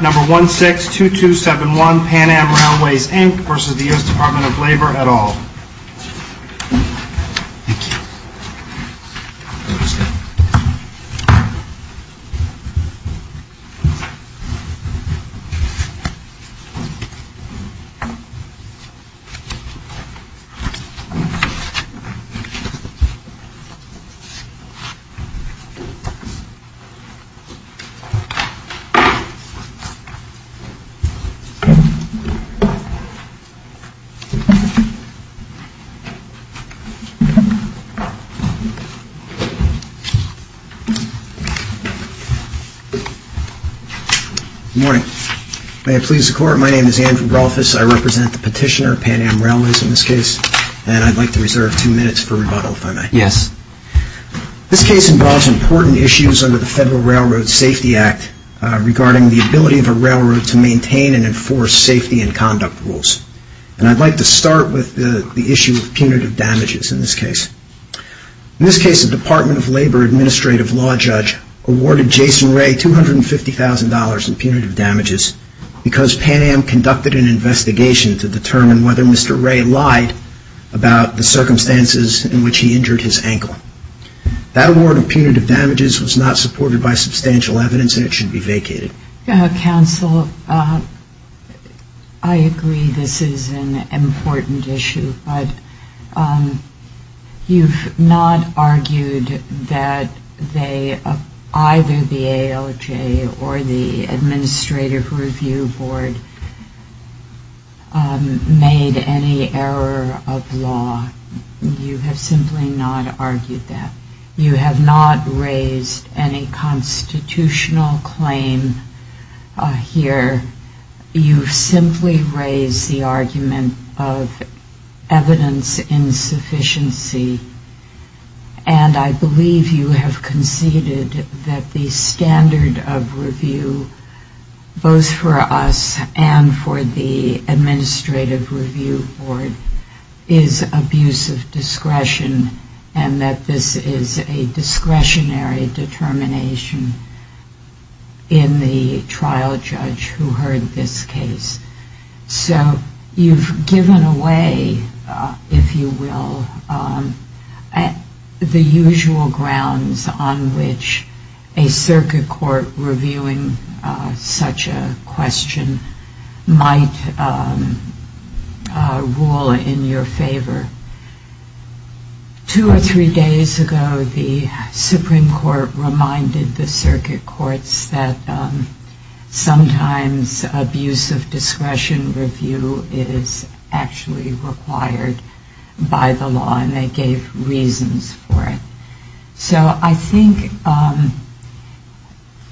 Number 162271 Pan Am Railways, Inc. v. The U.S. Department of Labor at all. Good morning. May it please the Court, my name is Andrew Rolfes, I represent the petitioner, Pan Am Railways in this case, and I'd like to reserve two minutes for rebuttal if I may. Yes. This case involves important issues under the Federal Railroad Safety Act regarding the ability of a railroad to maintain and enforce safety and conduct rules. I'd like to start with the issue of punitive damages in this case. In this case, the Department of Labor Administrative Law Judge awarded Jason Ray $250,000 in punitive damages because Pan Am conducted an investigation to determine whether Mr. Ray lied about the circumstances in which he injured his ankle. That award of punitive damages was not supported by substantial evidence and it should be vacated. Counsel, I agree this is an important issue, but you've not argued that either the ALJ or the Administrative Review Board made any error of law. You have simply not argued that. You have not raised any constitutional claim here. You've simply raised the argument of evidence insufficiency and I believe you have conceded that the standard of review, both for us and for the Administrative Review Board, is abuse of discretion and that this is not a discretionary determination in the trial judge who heard this case. So you've given away, if you will, the usual grounds on which a circuit court reviewing such a question might rule in your favor. Two or three days ago the Supreme Court reminded the circuit courts that sometimes abuse of discretion review is actually required by the law and they gave reasons for it. So I think,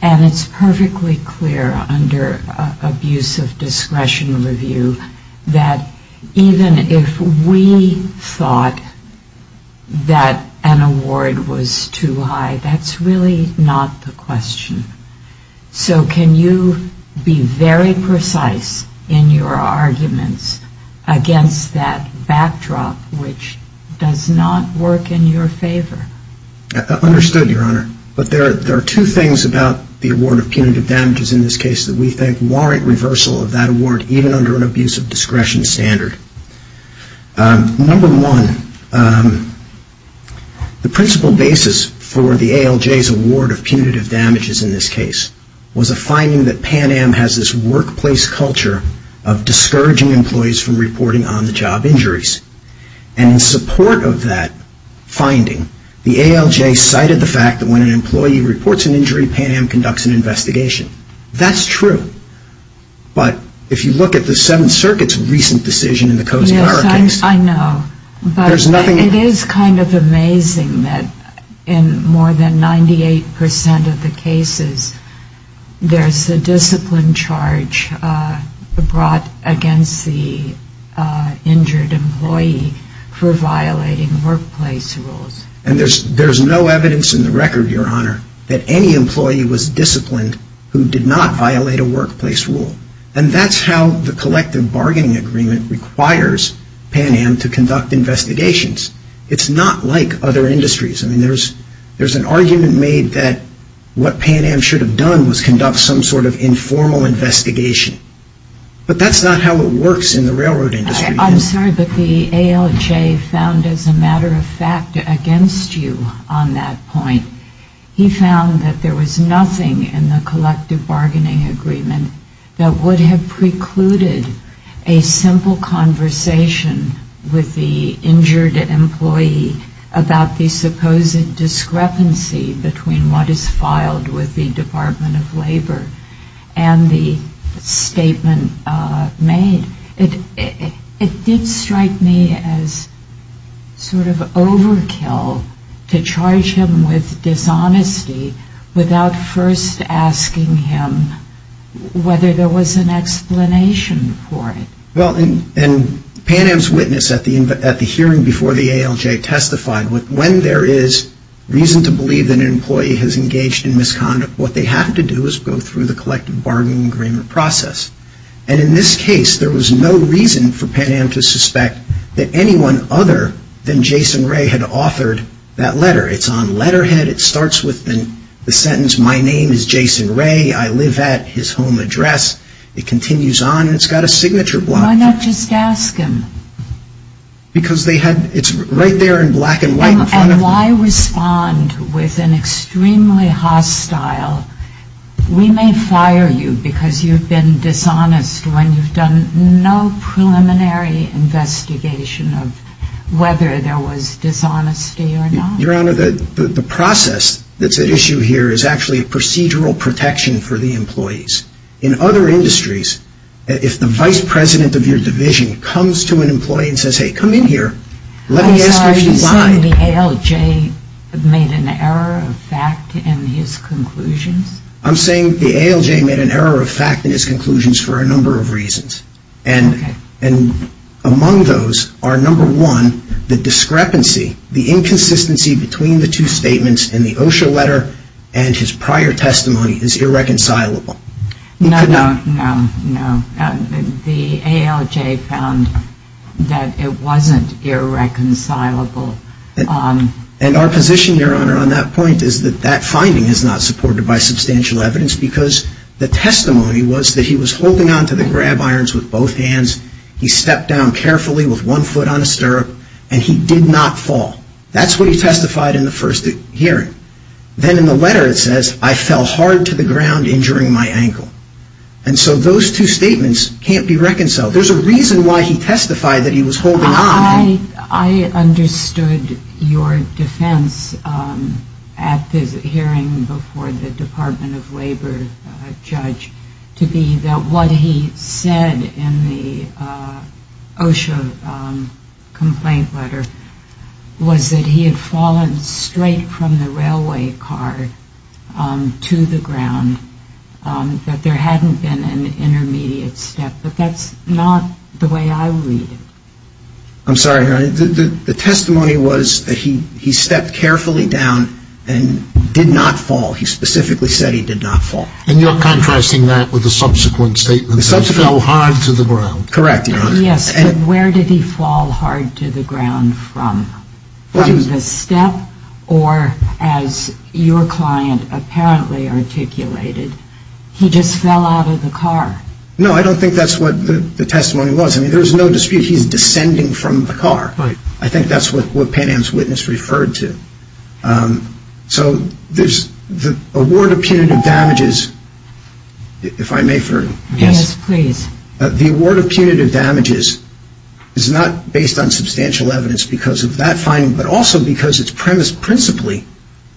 and it's perfectly clear under abuse of discretion review, that even if we have thought that an award was too high, that's really not the question. So can you be very precise in your arguments against that backdrop which does not work in your favor? Understood, Your Honor. But there are two things about the award of punitive damages in this case that we think warrant reversal of that award even under an abuse of discretion standard. Number one, the principal basis for the ALJ's award of punitive damages in this case was a finding that Pan Am has this workplace culture of discouraging employees from reporting on-the-job injuries. And in support of that finding, the ALJ cited the fact that when an employee reports an injury, Pan Am conducts an investigation. That's true. But if you look at the Seventh Circuit's recent decision in the Coase-Barr case, there's nothing It is kind of amazing that in more than 98 percent of the cases, there's a discipline charge brought against the injured employee for violating workplace rules. And there's no evidence in the record, Your Honor, that any employee was disciplined who did not violate a workplace rule. And that's how the collective bargaining agreement requires Pan Am to conduct investigations. It's not like other industries. I mean, there's an argument made that what Pan Am should have done was conduct some sort of informal investigation. But that's not how it works in the railroad industry. I'm sorry, but the ALJ found, as a matter of fact, against you on that point. He found that there was nothing in the collective bargaining agreement that would have precluded a simple conversation with the injured employee about the supposed discrepancy between what is filed with the Department of Labor and the statement made. It did strike me as sort of overkill to charge him with dishonesty without first asking him whether there was an explanation for it. Well, and Pan Am's witness at the hearing before the ALJ testified, when there is reason to believe that an employee has engaged in misconduct, what they have to do is go through the collective bargaining agreement process. And in this case, there was no reason for that letter. It's on letterhead. It starts with the sentence, my name is Jason Ray. I live at his home address. It continues on. It's got a signature block. Why not just ask him? Because they had, it's right there in black and white in front of them. And why respond with an extremely hostile, we may fire you because you've been dishonest when you've done no preliminary investigation of whether there was dishonesty or not. Your Honor, the process that's at issue here is actually procedural protection for the employees. In other industries, if the vice president of your division comes to an employee and says, hey, come in here, let me ask you why. Are you saying the ALJ made an error of fact in his conclusions? I'm saying the ALJ made an error of fact in his conclusions for a number of reasons. And among those are number one, the discrepancy, the inconsistency between the two statements in the OSHA letter and his prior testimony is irreconcilable. No, no, no, no. The ALJ found that it wasn't irreconcilable. And our position, Your Honor, on that point is that that finding is not supported by substantial evidence because the testimony was that he was holding on to the grab irons with both hands. He stepped down carefully with one foot on a stirrup and he did not fall. That's what he testified in the first hearing. Then in the letter it says, I fell hard to the ground injuring my ankle. And so those two statements can't be reconciled. There's a reason why he testified that he was holding on. I understood your defense at the hearing before the Department of Labor judge to be that what he said in the OSHA complaint letter was that he had fallen straight from the railway car to the ground, that there hadn't been an intermediate step. But that's not the way I read it. I'm sorry, Your Honor. The testimony was that he stepped carefully down and did not fall. He specifically said he did not fall. And you're contrasting that with the subsequent statement that he fell hard to the ground. Correct, Your Honor. Yes, but where did he fall hard to the ground from? Was it the step or as your client apparently articulated, he just fell out of the car? No, I don't think that's what the testimony was. I mean, there was no dispute he's descending from the car. I think that's what Pan Am's witness referred to. So there's the award of punitive damages, if I may, Ferdinand. Yes, please. The award of punitive damages is not based on substantial evidence because of that finding, but also because it's premised principally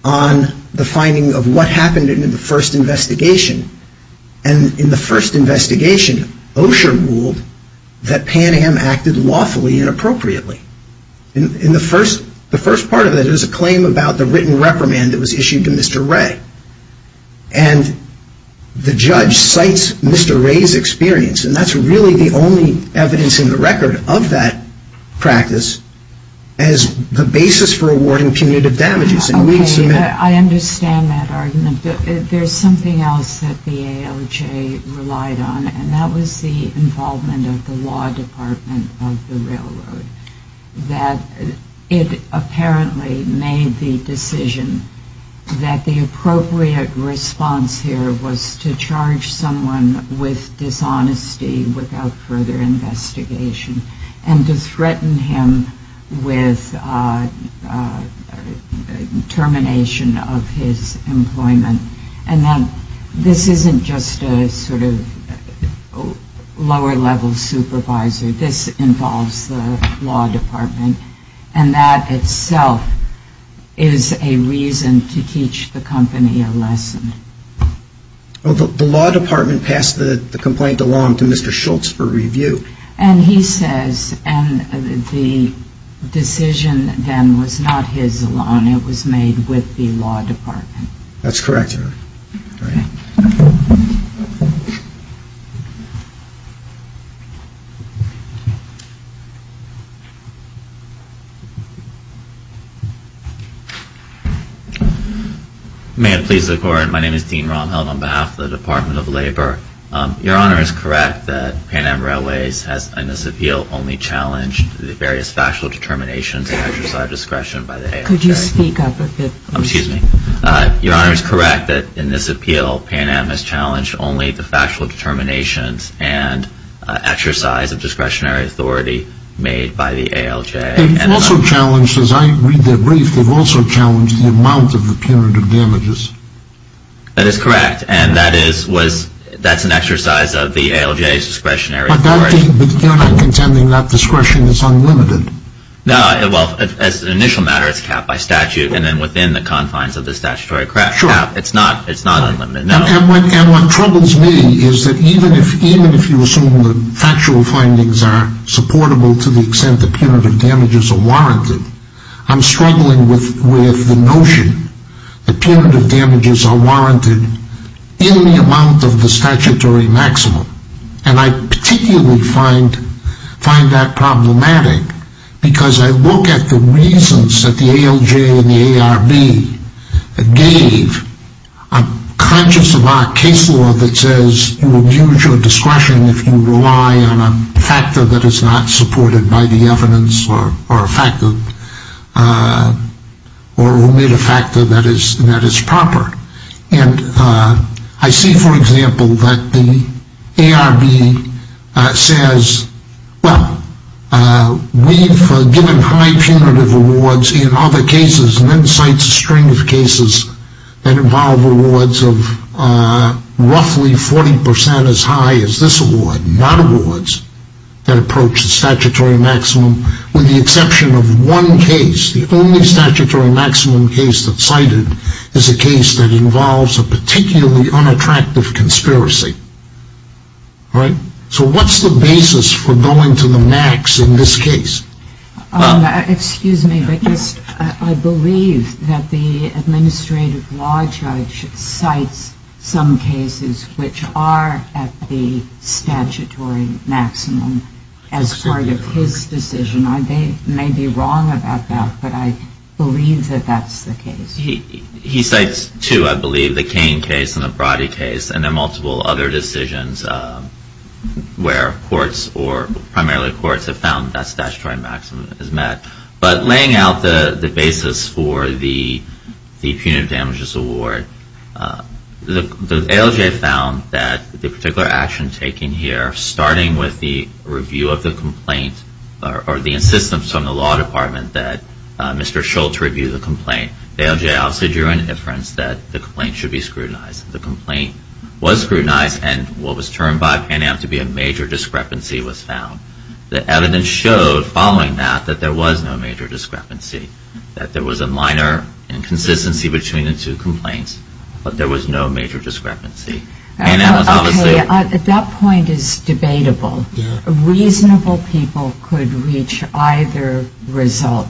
on the finding of what happened in the first investigation. And in the first investigation, Osher ruled that Pan Am acted lawfully and appropriately. In the first part of it, it was a claim about the written reprimand that was issued to Mr. Wray. And the judge cites Mr. Wray's experience, and that's really the only evidence in the record of that practice, as the basis for awarding punitive damages. I understand that argument. There's something else that the ALJ relied on, and that was the involvement of the law department of the railroad, that it apparently made the decision that the appropriate response here was to charge someone with dishonesty without further termination of his employment. And this isn't just a sort of lower-level supervisor. This involves the law department, and that itself is a reason to teach the company a lesson. The law department passed the complaint along to Mr. Schultz for review. And he says, and the decision then was not his alone. It was made with the law department. That's correct, Your Honor. May it please the Court, my name is Dean Romheld on behalf of the Department of Labor. Your Honor, in this appeal, Pan Am has challenged only the various factual determinations and exercise of discretion by the ALJ. Could you speak up a bit? Excuse me. Your Honor, it's correct that in this appeal, Pan Am has challenged only the factual determinations and exercise of discretionary authority made by the ALJ. They've also challenged, as I read their brief, they've also challenged the amount of punitive damages. That is correct, and that's an exercise of the ALJ's discretionary authority. But you're not contending that discretion is unlimited? No, well, as an initial matter, it's capped by statute, and then within the confines of the statutory crack. Sure. It's not unlimited, no. And what troubles me is that even if you assume that factual findings are supportable to the extent that punitive damages are warranted, I'm struggling with the notion that punitive And I immediately find that problematic, because I look at the reasons that the ALJ and the ARB gave, I'm conscious of our case law that says you will use your discretion if you rely on a factor that is not supported by the evidence or made a factor that is proper. And I see, for example, that the ARB says, well, we've given high punitive awards in other cases and then cites a string of cases that involve awards of roughly 40% as high as this award, not awards that approach the statutory maximum, with the exception of one case. The only statutory maximum case that's cited is a case that involves a particularly unattractive conspiracy. All right? So what's the basis for going to the max in this case? Excuse me, but I believe that the administrative law judge cites some cases which are at the statutory maximum as part of his decision. I may be wrong about that, but I believe that that's the case. He cites two, I believe, the Cain case and the Brody case, and then multiple other decisions where courts or primarily courts have found that statutory maximum is met. But laying out the basis for the punitive damages award, the ALJ found that the particular action taken here, starting with the review of the complaint or the insistence from the law department that Mr. Schultz review the complaint, ALJ also drew an inference that the complaint should be scrutinized. The complaint was scrutinized, and what was termed by Pan Am to be a major discrepancy was found. The evidence showed, following that, that there was no major discrepancy, that there was a minor inconsistency between the two complaints, but there was no major discrepancy. At that point, it's debatable. Reasonable people could reach either result,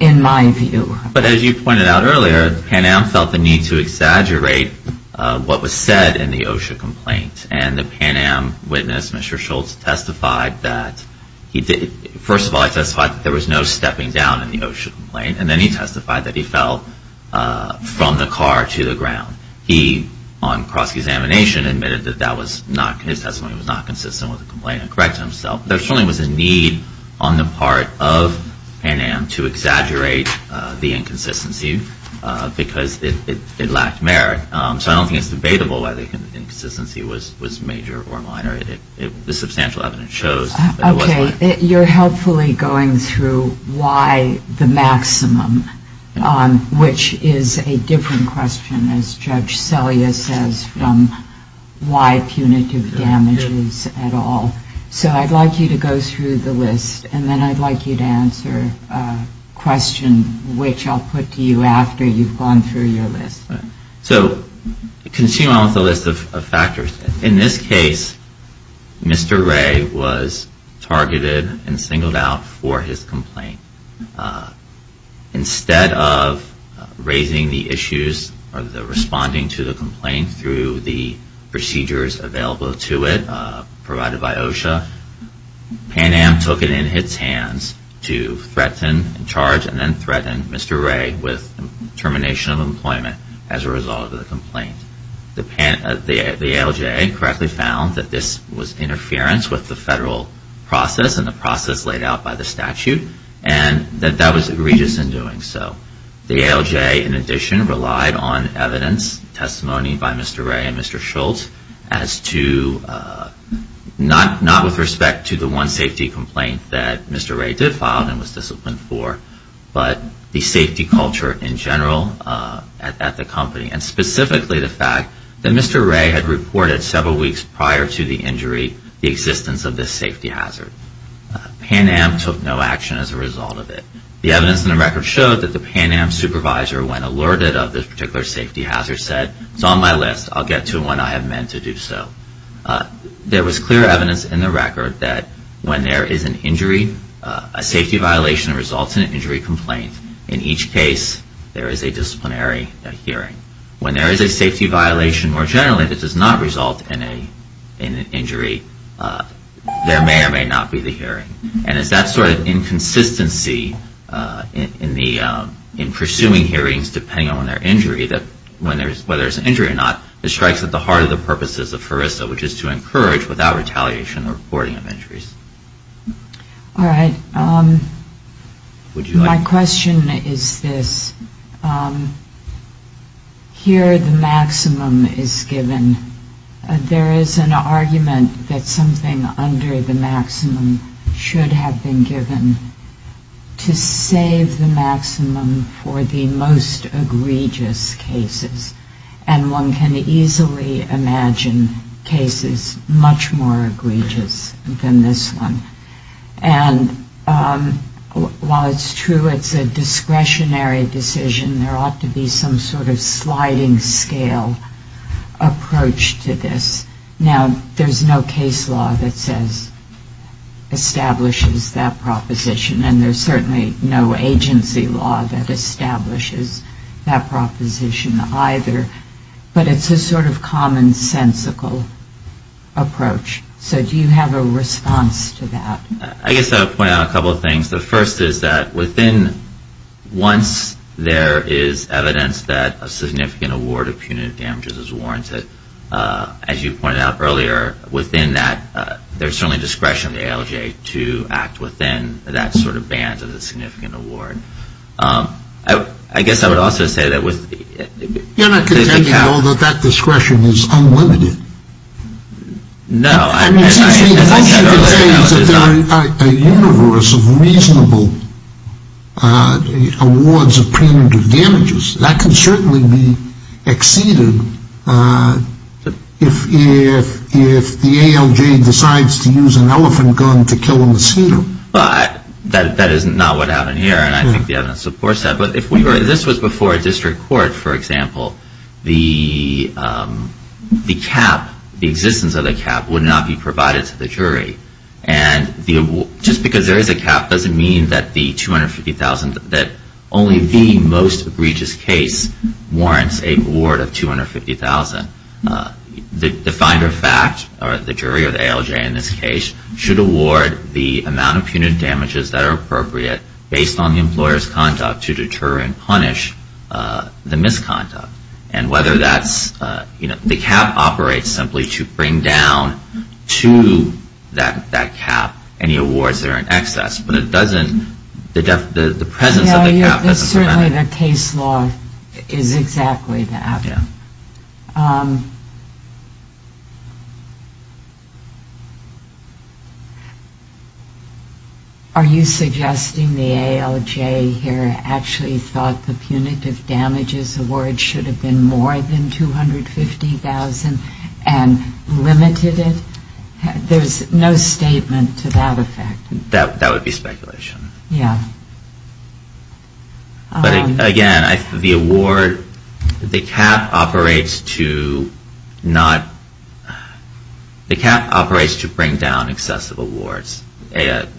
in my view. But as you pointed out earlier, Pan Am felt the need to exaggerate what was said in the OSHA complaint, and the Pan Am witness, Mr. Schultz, testified that he did. First of all, he testified that there was no stepping down in the OSHA complaint, and then he testified that he fell from the car to the ground. He, on cross-examination, admitted that his testimony was not consistent with the complaint and correct himself. There certainly was a need on the part of Pan Am to exaggerate the inconsistency because it lacked merit. So I don't think it's debatable whether the inconsistency was major or minor. The substantial evidence shows that it was minor. Okay. You're helpfully going through why the maximum, which is a different question, as Judge Selya says, from why punitive damages at all. So I'd like you to go through the list, and then I'd like you to answer a question, which I'll put to you after you've gone through your list. So continuing on with the list of factors, in this case, Mr. Ray was targeted and singled out for his complaint. Instead of raising the issues or the responding to the complaint through the procedures available to it provided by OSHA, Pan Am took it in its hands to threaten and charge and then threaten Mr. Ray with termination of employment as a result of the complaint. The ALJ correctly found that this was interference with the federal process and the process laid out by the statute, and that that was egregious in doing so. The ALJ, in addition, relied on evidence, testimony by Mr. Ray and Mr. Schultz as to, not with respect to the one safety complaint that Mr. Ray did file and was disciplined for, but the safety culture in general at the company, and specifically the fact that Mr. Ray had reported several weeks prior to the injury the existence of this safety hazard. Pan Am took no action as a result of it. The evidence in the record showed that the Pan Am supervisor, when alerted of this particular safety hazard, said, it's on my list, I'll get to it when I have men to do so. There was clear evidence in the record that when there is an injury, a safety violation results in an injury complaint. In each case, there is a disciplinary hearing. When there is a safety violation, more generally, that does not result in an injury, there may or may not be the hearing. And it's that sort of inconsistency in pursuing hearings, depending on their injury, whether there's an injury or not, that strikes at the heart of the purposes of HRSA, which is to encourage, without retaliation, the reporting of injuries. All right. My question is this. Here the maximum is given. There is an argument that something under the maximum should have been given to save the maximum for the most egregious cases. And one can easily imagine cases much more egregious than this one. And while it's true it's a discretionary decision, there ought to be some sort of sliding scale approach to this. Now, there's no case law that says, establishes that proposition, and there's certainly no agency law that establishes that proposition either. But it's a sort of commonsensical approach. So do you have a response to that? I guess I would point out a couple of things. The first is that within once there is evidence that a significant award of punitive damages is warranted, as you pointed out earlier, within that, there's certainly discretion of the ALJ to act within that sort of band of the significant award. I guess I would also say that with the... You're not contending at all that that discretion is unlimited? No. I mean, it seems to me that once you can say that there is a universe of reasonable awards of punitive damages, that can certainly be exceeded if the ALJ decides to use an elephant gun to kill a mosquito. That is not what happened here, and I think the evidence supports that. But if this was before a district court, for example, the cap, the existence of the cap, would not be provided to the jury. And just because there is a cap doesn't mean that the $250,000, that only the most egregious case warrants a reward of $250,000. The finder of fact, or the jury or the ALJ in this case, should award the amount of punitive damages that are appropriate based on the employer's conduct to deter and punish the misconduct. And whether that's, you know, the cap operates simply to bring down to that cap any awards that are in excess, but it doesn't, the presence of the cap doesn't prevent it. The case law is exactly that. Are you suggesting the ALJ here actually thought the punitive damages award should have been more than $250,000 and limited it? There's no statement to that effect. That would be speculation. Yeah. But again, the award, the cap operates to not, the cap operates to bring down excessive awards.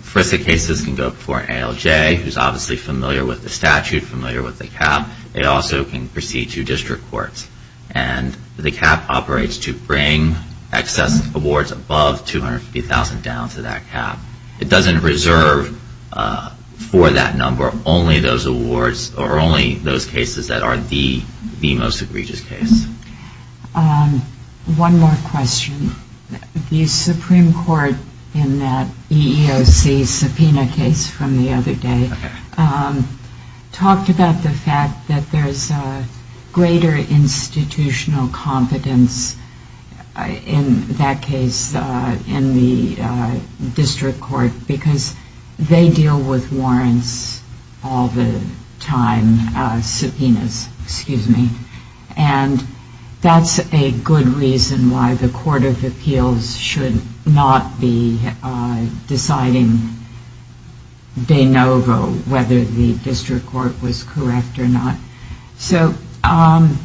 First the cases can go before an ALJ, who's obviously familiar with the statute, familiar with the cap. It also can proceed to district courts. And the cap operates to bring excessive awards above $250,000 down to that cap. It doesn't reserve for that number only those awards or only those cases that are the most egregious case. One more question. The Supreme Court in that EEOC subpoena case from the other day talked about the fact that there's greater institutional confidence in that case in the district court because they deal with warrants all the time, subpoenas, excuse me. And that's a good reason why the Court of Appeals should not be deciding de novo whether the district court was correct or not. So I'm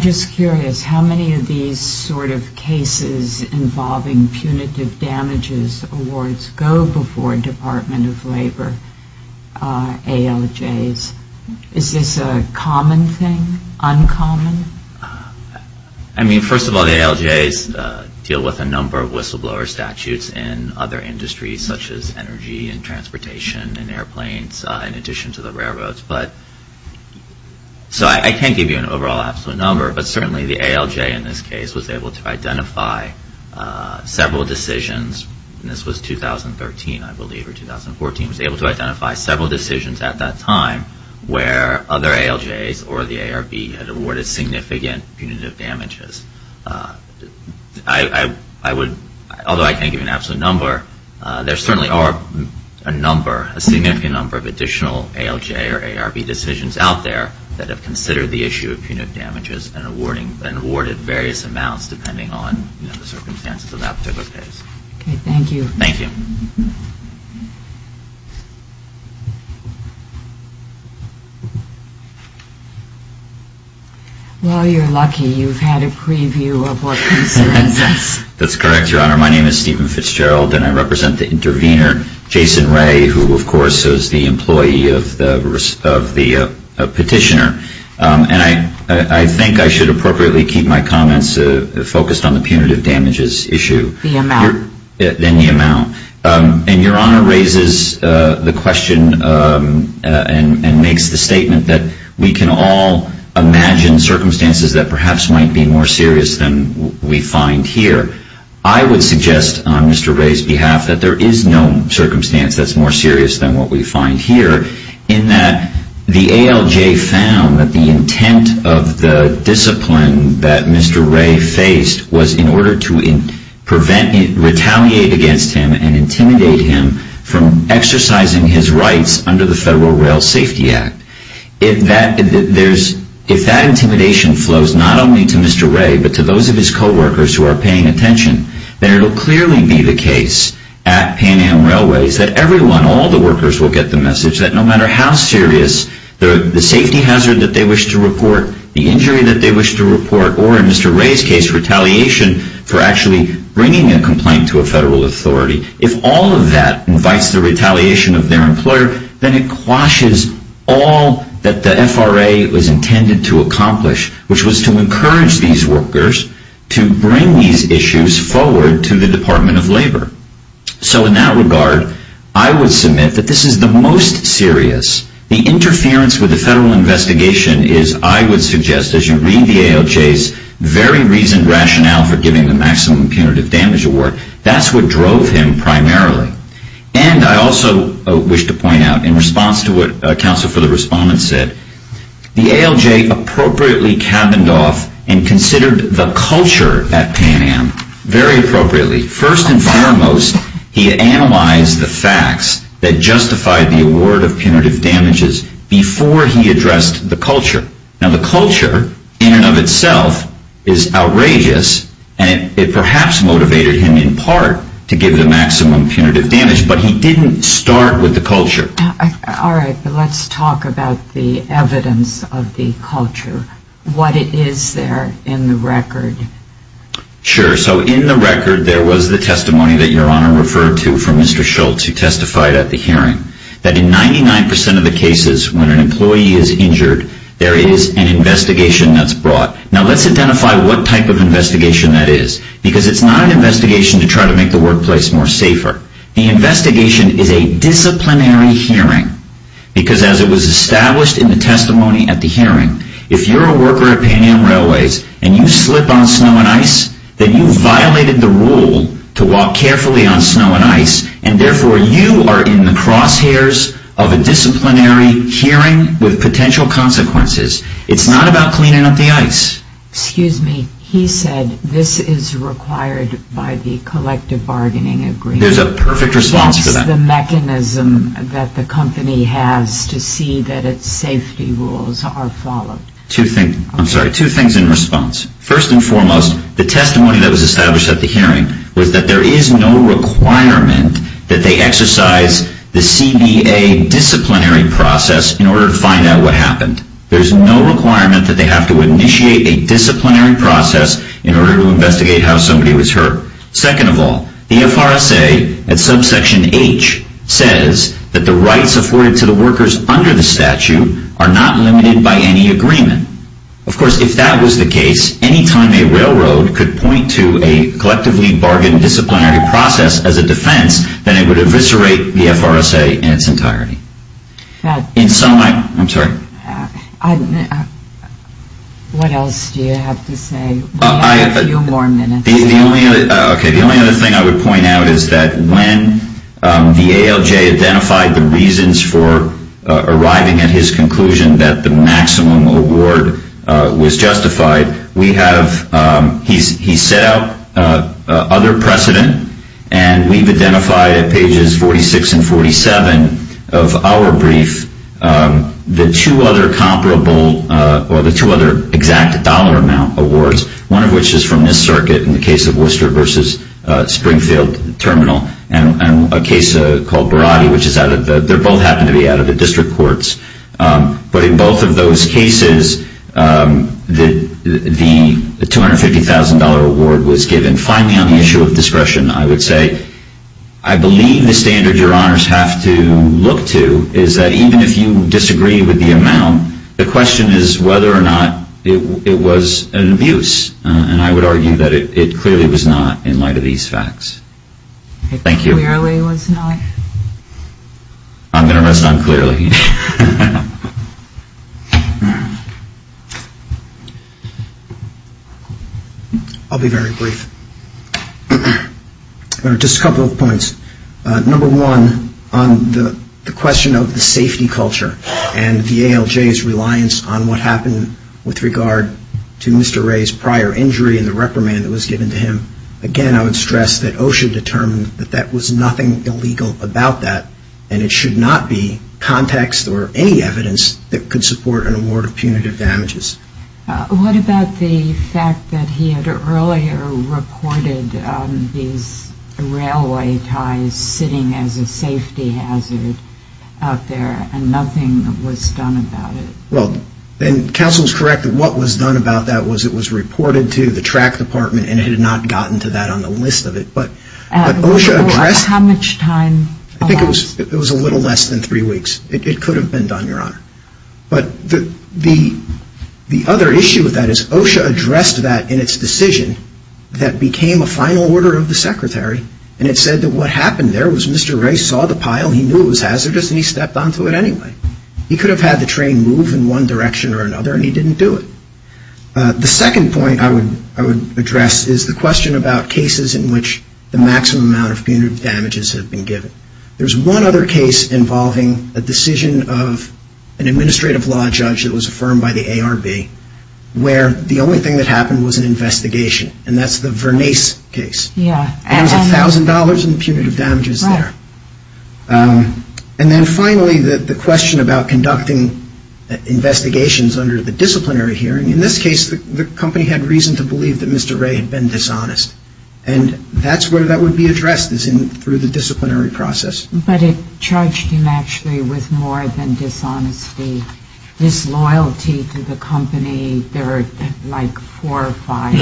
just curious, how many of these sort of cases involving punitive damages awards go before Department of Labor ALJs? Is this a common thing? Uncommon? I mean, first of all, the ALJs deal with a number of whistleblower statutes in other industries such as energy and transportation and airplanes in addition to the railroads. So I can't give you an overall absolute number, but certainly the ALJ in this case was able to identify several decisions. And this was 2013, I believe, or 2014. It was able to identify several decisions at that time where other ALJs or the ARB had awarded significant punitive damages. Although I can't give you an absolute number, there certainly are a number, a significant number, of additional ALJ or ARB decisions out there that have considered the issue of punitive damages and awarded various amounts depending on the circumstances of that particular case. Thank you. While you're lucky, you've had a preview of what concerns us. That's correct, Your Honor. My name is Stephen Fitzgerald, and I represent the intervener, Jason Ray, who of course is the employee of the petitioner. And I think I should appropriately keep my comments focused on the punitive damages issue. The amount. Then the amount. And Your Honor raises the question and makes the statement that we can all imagine circumstances that perhaps might be more serious than we find here. I would suggest on Mr. Ray's behalf that there is no circumstance that's more serious than what we find here, in that the ALJ found that the intent of the discipline that Mr. Ray faced was in order to retaliate against him and intimidate him from exercising his rights under the Federal Rail Safety Act. If that intimidation flows not only to Mr. Ray but to those of his co-workers who are paying attention, then it will clearly be the case at Pan Am Railways that everyone, all the workers will get the message that no matter how serious the safety hazard that they wish to report, the injury that they wish to report, or in Mr. Ray's case, retaliation for actually bringing a complaint to a Federal authority, if all of that invites the retaliation of their employer, then it quashes all that the FRA was intended to accomplish, which was to encourage these workers to bring these issues forward to the Department of Labor. So in that regard, I would submit that this is the most serious. The interference with the Federal investigation is, I would suggest, as you read the ALJ's very recent rationale for giving the maximum punitive damage award, that's what drove him primarily. And I also wish to point out, in response to what counsel for the respondent said, the ALJ appropriately cabined off and considered the culture at Pan Am, very appropriately. First and foremost, he analyzed the facts that justified the award of punitive damages before he addressed the culture. Now, the culture, in and of itself, is outrageous, and it perhaps motivated him, in part, to give the maximum punitive damage, but he didn't start with the culture. All right, but let's talk about the evidence of the culture. What is there in the record? Sure, so in the record, there was the testimony that Your Honor referred to from Mr. Schultz, who testified at the hearing, that in 99% of the cases, when an employee is injured, there is an investigation that's brought. Now, let's identify what type of investigation that is, because it's not an investigation to try to make the workplace more safer. The investigation is a disciplinary hearing, because as it was established in the testimony at the hearing, if you're a worker at Pan Am Railways, and you slip on snow and ice, then you violated the rule to walk carefully on snow and ice, and therefore you are in the crosshairs of a disciplinary hearing with potential consequences. It's not about cleaning up the ice. Excuse me, he said this is required by the collective bargaining agreement. There's a perfect response for that. What is the mechanism that the company has to see that its safety rules are followed? I'm sorry, two things in response. First and foremost, the testimony that was established at the hearing was that there is no requirement that they exercise the CBA disciplinary process in order to find out what happened. There's no requirement that they have to initiate a disciplinary process in order to investigate how somebody was hurt. Second of all, the FRSA, at subsection H, says that the rights afforded to the workers under the statute are not limited by any agreement. Of course, if that was the case, any time a railroad could point to a collectively bargained disciplinary process as a defense, then it would eviscerate the FRSA in its entirety. In sum, I'm sorry. What else do you have to say? We have a few more minutes. The only other thing I would point out is that when the ALJ identified the reasons for arriving at his conclusion that the maximum award was justified, he set out other precedent, and we've identified at pages 46 and 47 of our brief the two other exact dollar amount awards, one of which is from this circuit in the case of Worcester versus Springfield Terminal and a case called Barati, which they both happen to be out of the district courts. But in both of those cases, the $250,000 award was given on the issue of discretion, I would say. I believe the standard your honors have to look to is that even if you disagree with the amount, the question is whether or not it was an abuse, and I would argue that it clearly was not in light of these facts. Thank you. It clearly was not? I'm going to rest on clearly. I'll be very brief. Just a couple of points. Number one, on the question of the safety culture and the ALJ's reliance on what happened with regard to Mr. Ray's prior injury and the reprimand that was given to him, again, I would stress that OSHA determined that that was nothing illegal about that, and it should not be context or any evidence that could support an award of punitive damages. What about the fact that he had earlier reported his railway ties sitting as a safety hazard out there and nothing was done about it? Well, and counsel is correct that what was done about that was it was reported to the track department and it had not gotten to that on the list of it. How much time? I think it was a little less than three weeks. It could have been done, Your Honor. But the other issue with that is OSHA addressed that in its decision that became a final order of the secretary, and it said that what happened there was Mr. Ray saw the pile, he knew it was hazardous, and he stepped onto it anyway. He could have had the train move in one direction or another, and he didn't do it. The second point I would address is the question about cases in which the maximum amount of punitive damages have been given. There's one other case involving a decision of an administrative law judge that was affirmed by the ARB where the only thing that happened was an investigation, and that's the Vernace case. It was $1,000 in punitive damages there. And then finally, the question about conducting investigations under the disciplinary hearing. In this case, the company had reason to believe that Mr. Ray had been dishonest, and that's where that would be addressed is through the disciplinary process. But it charged him actually with more than dishonesty, disloyalty to the company. There were like four or five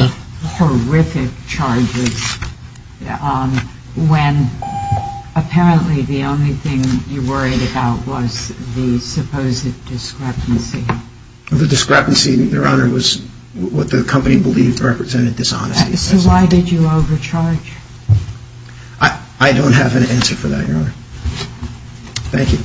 horrific charges when apparently the only thing you worried about was the supposed discrepancy. The discrepancy, Your Honor, was what the company believed represented dishonesty. So why did you overcharge? I don't have an answer for that, Your Honor. Thank you. Thank you.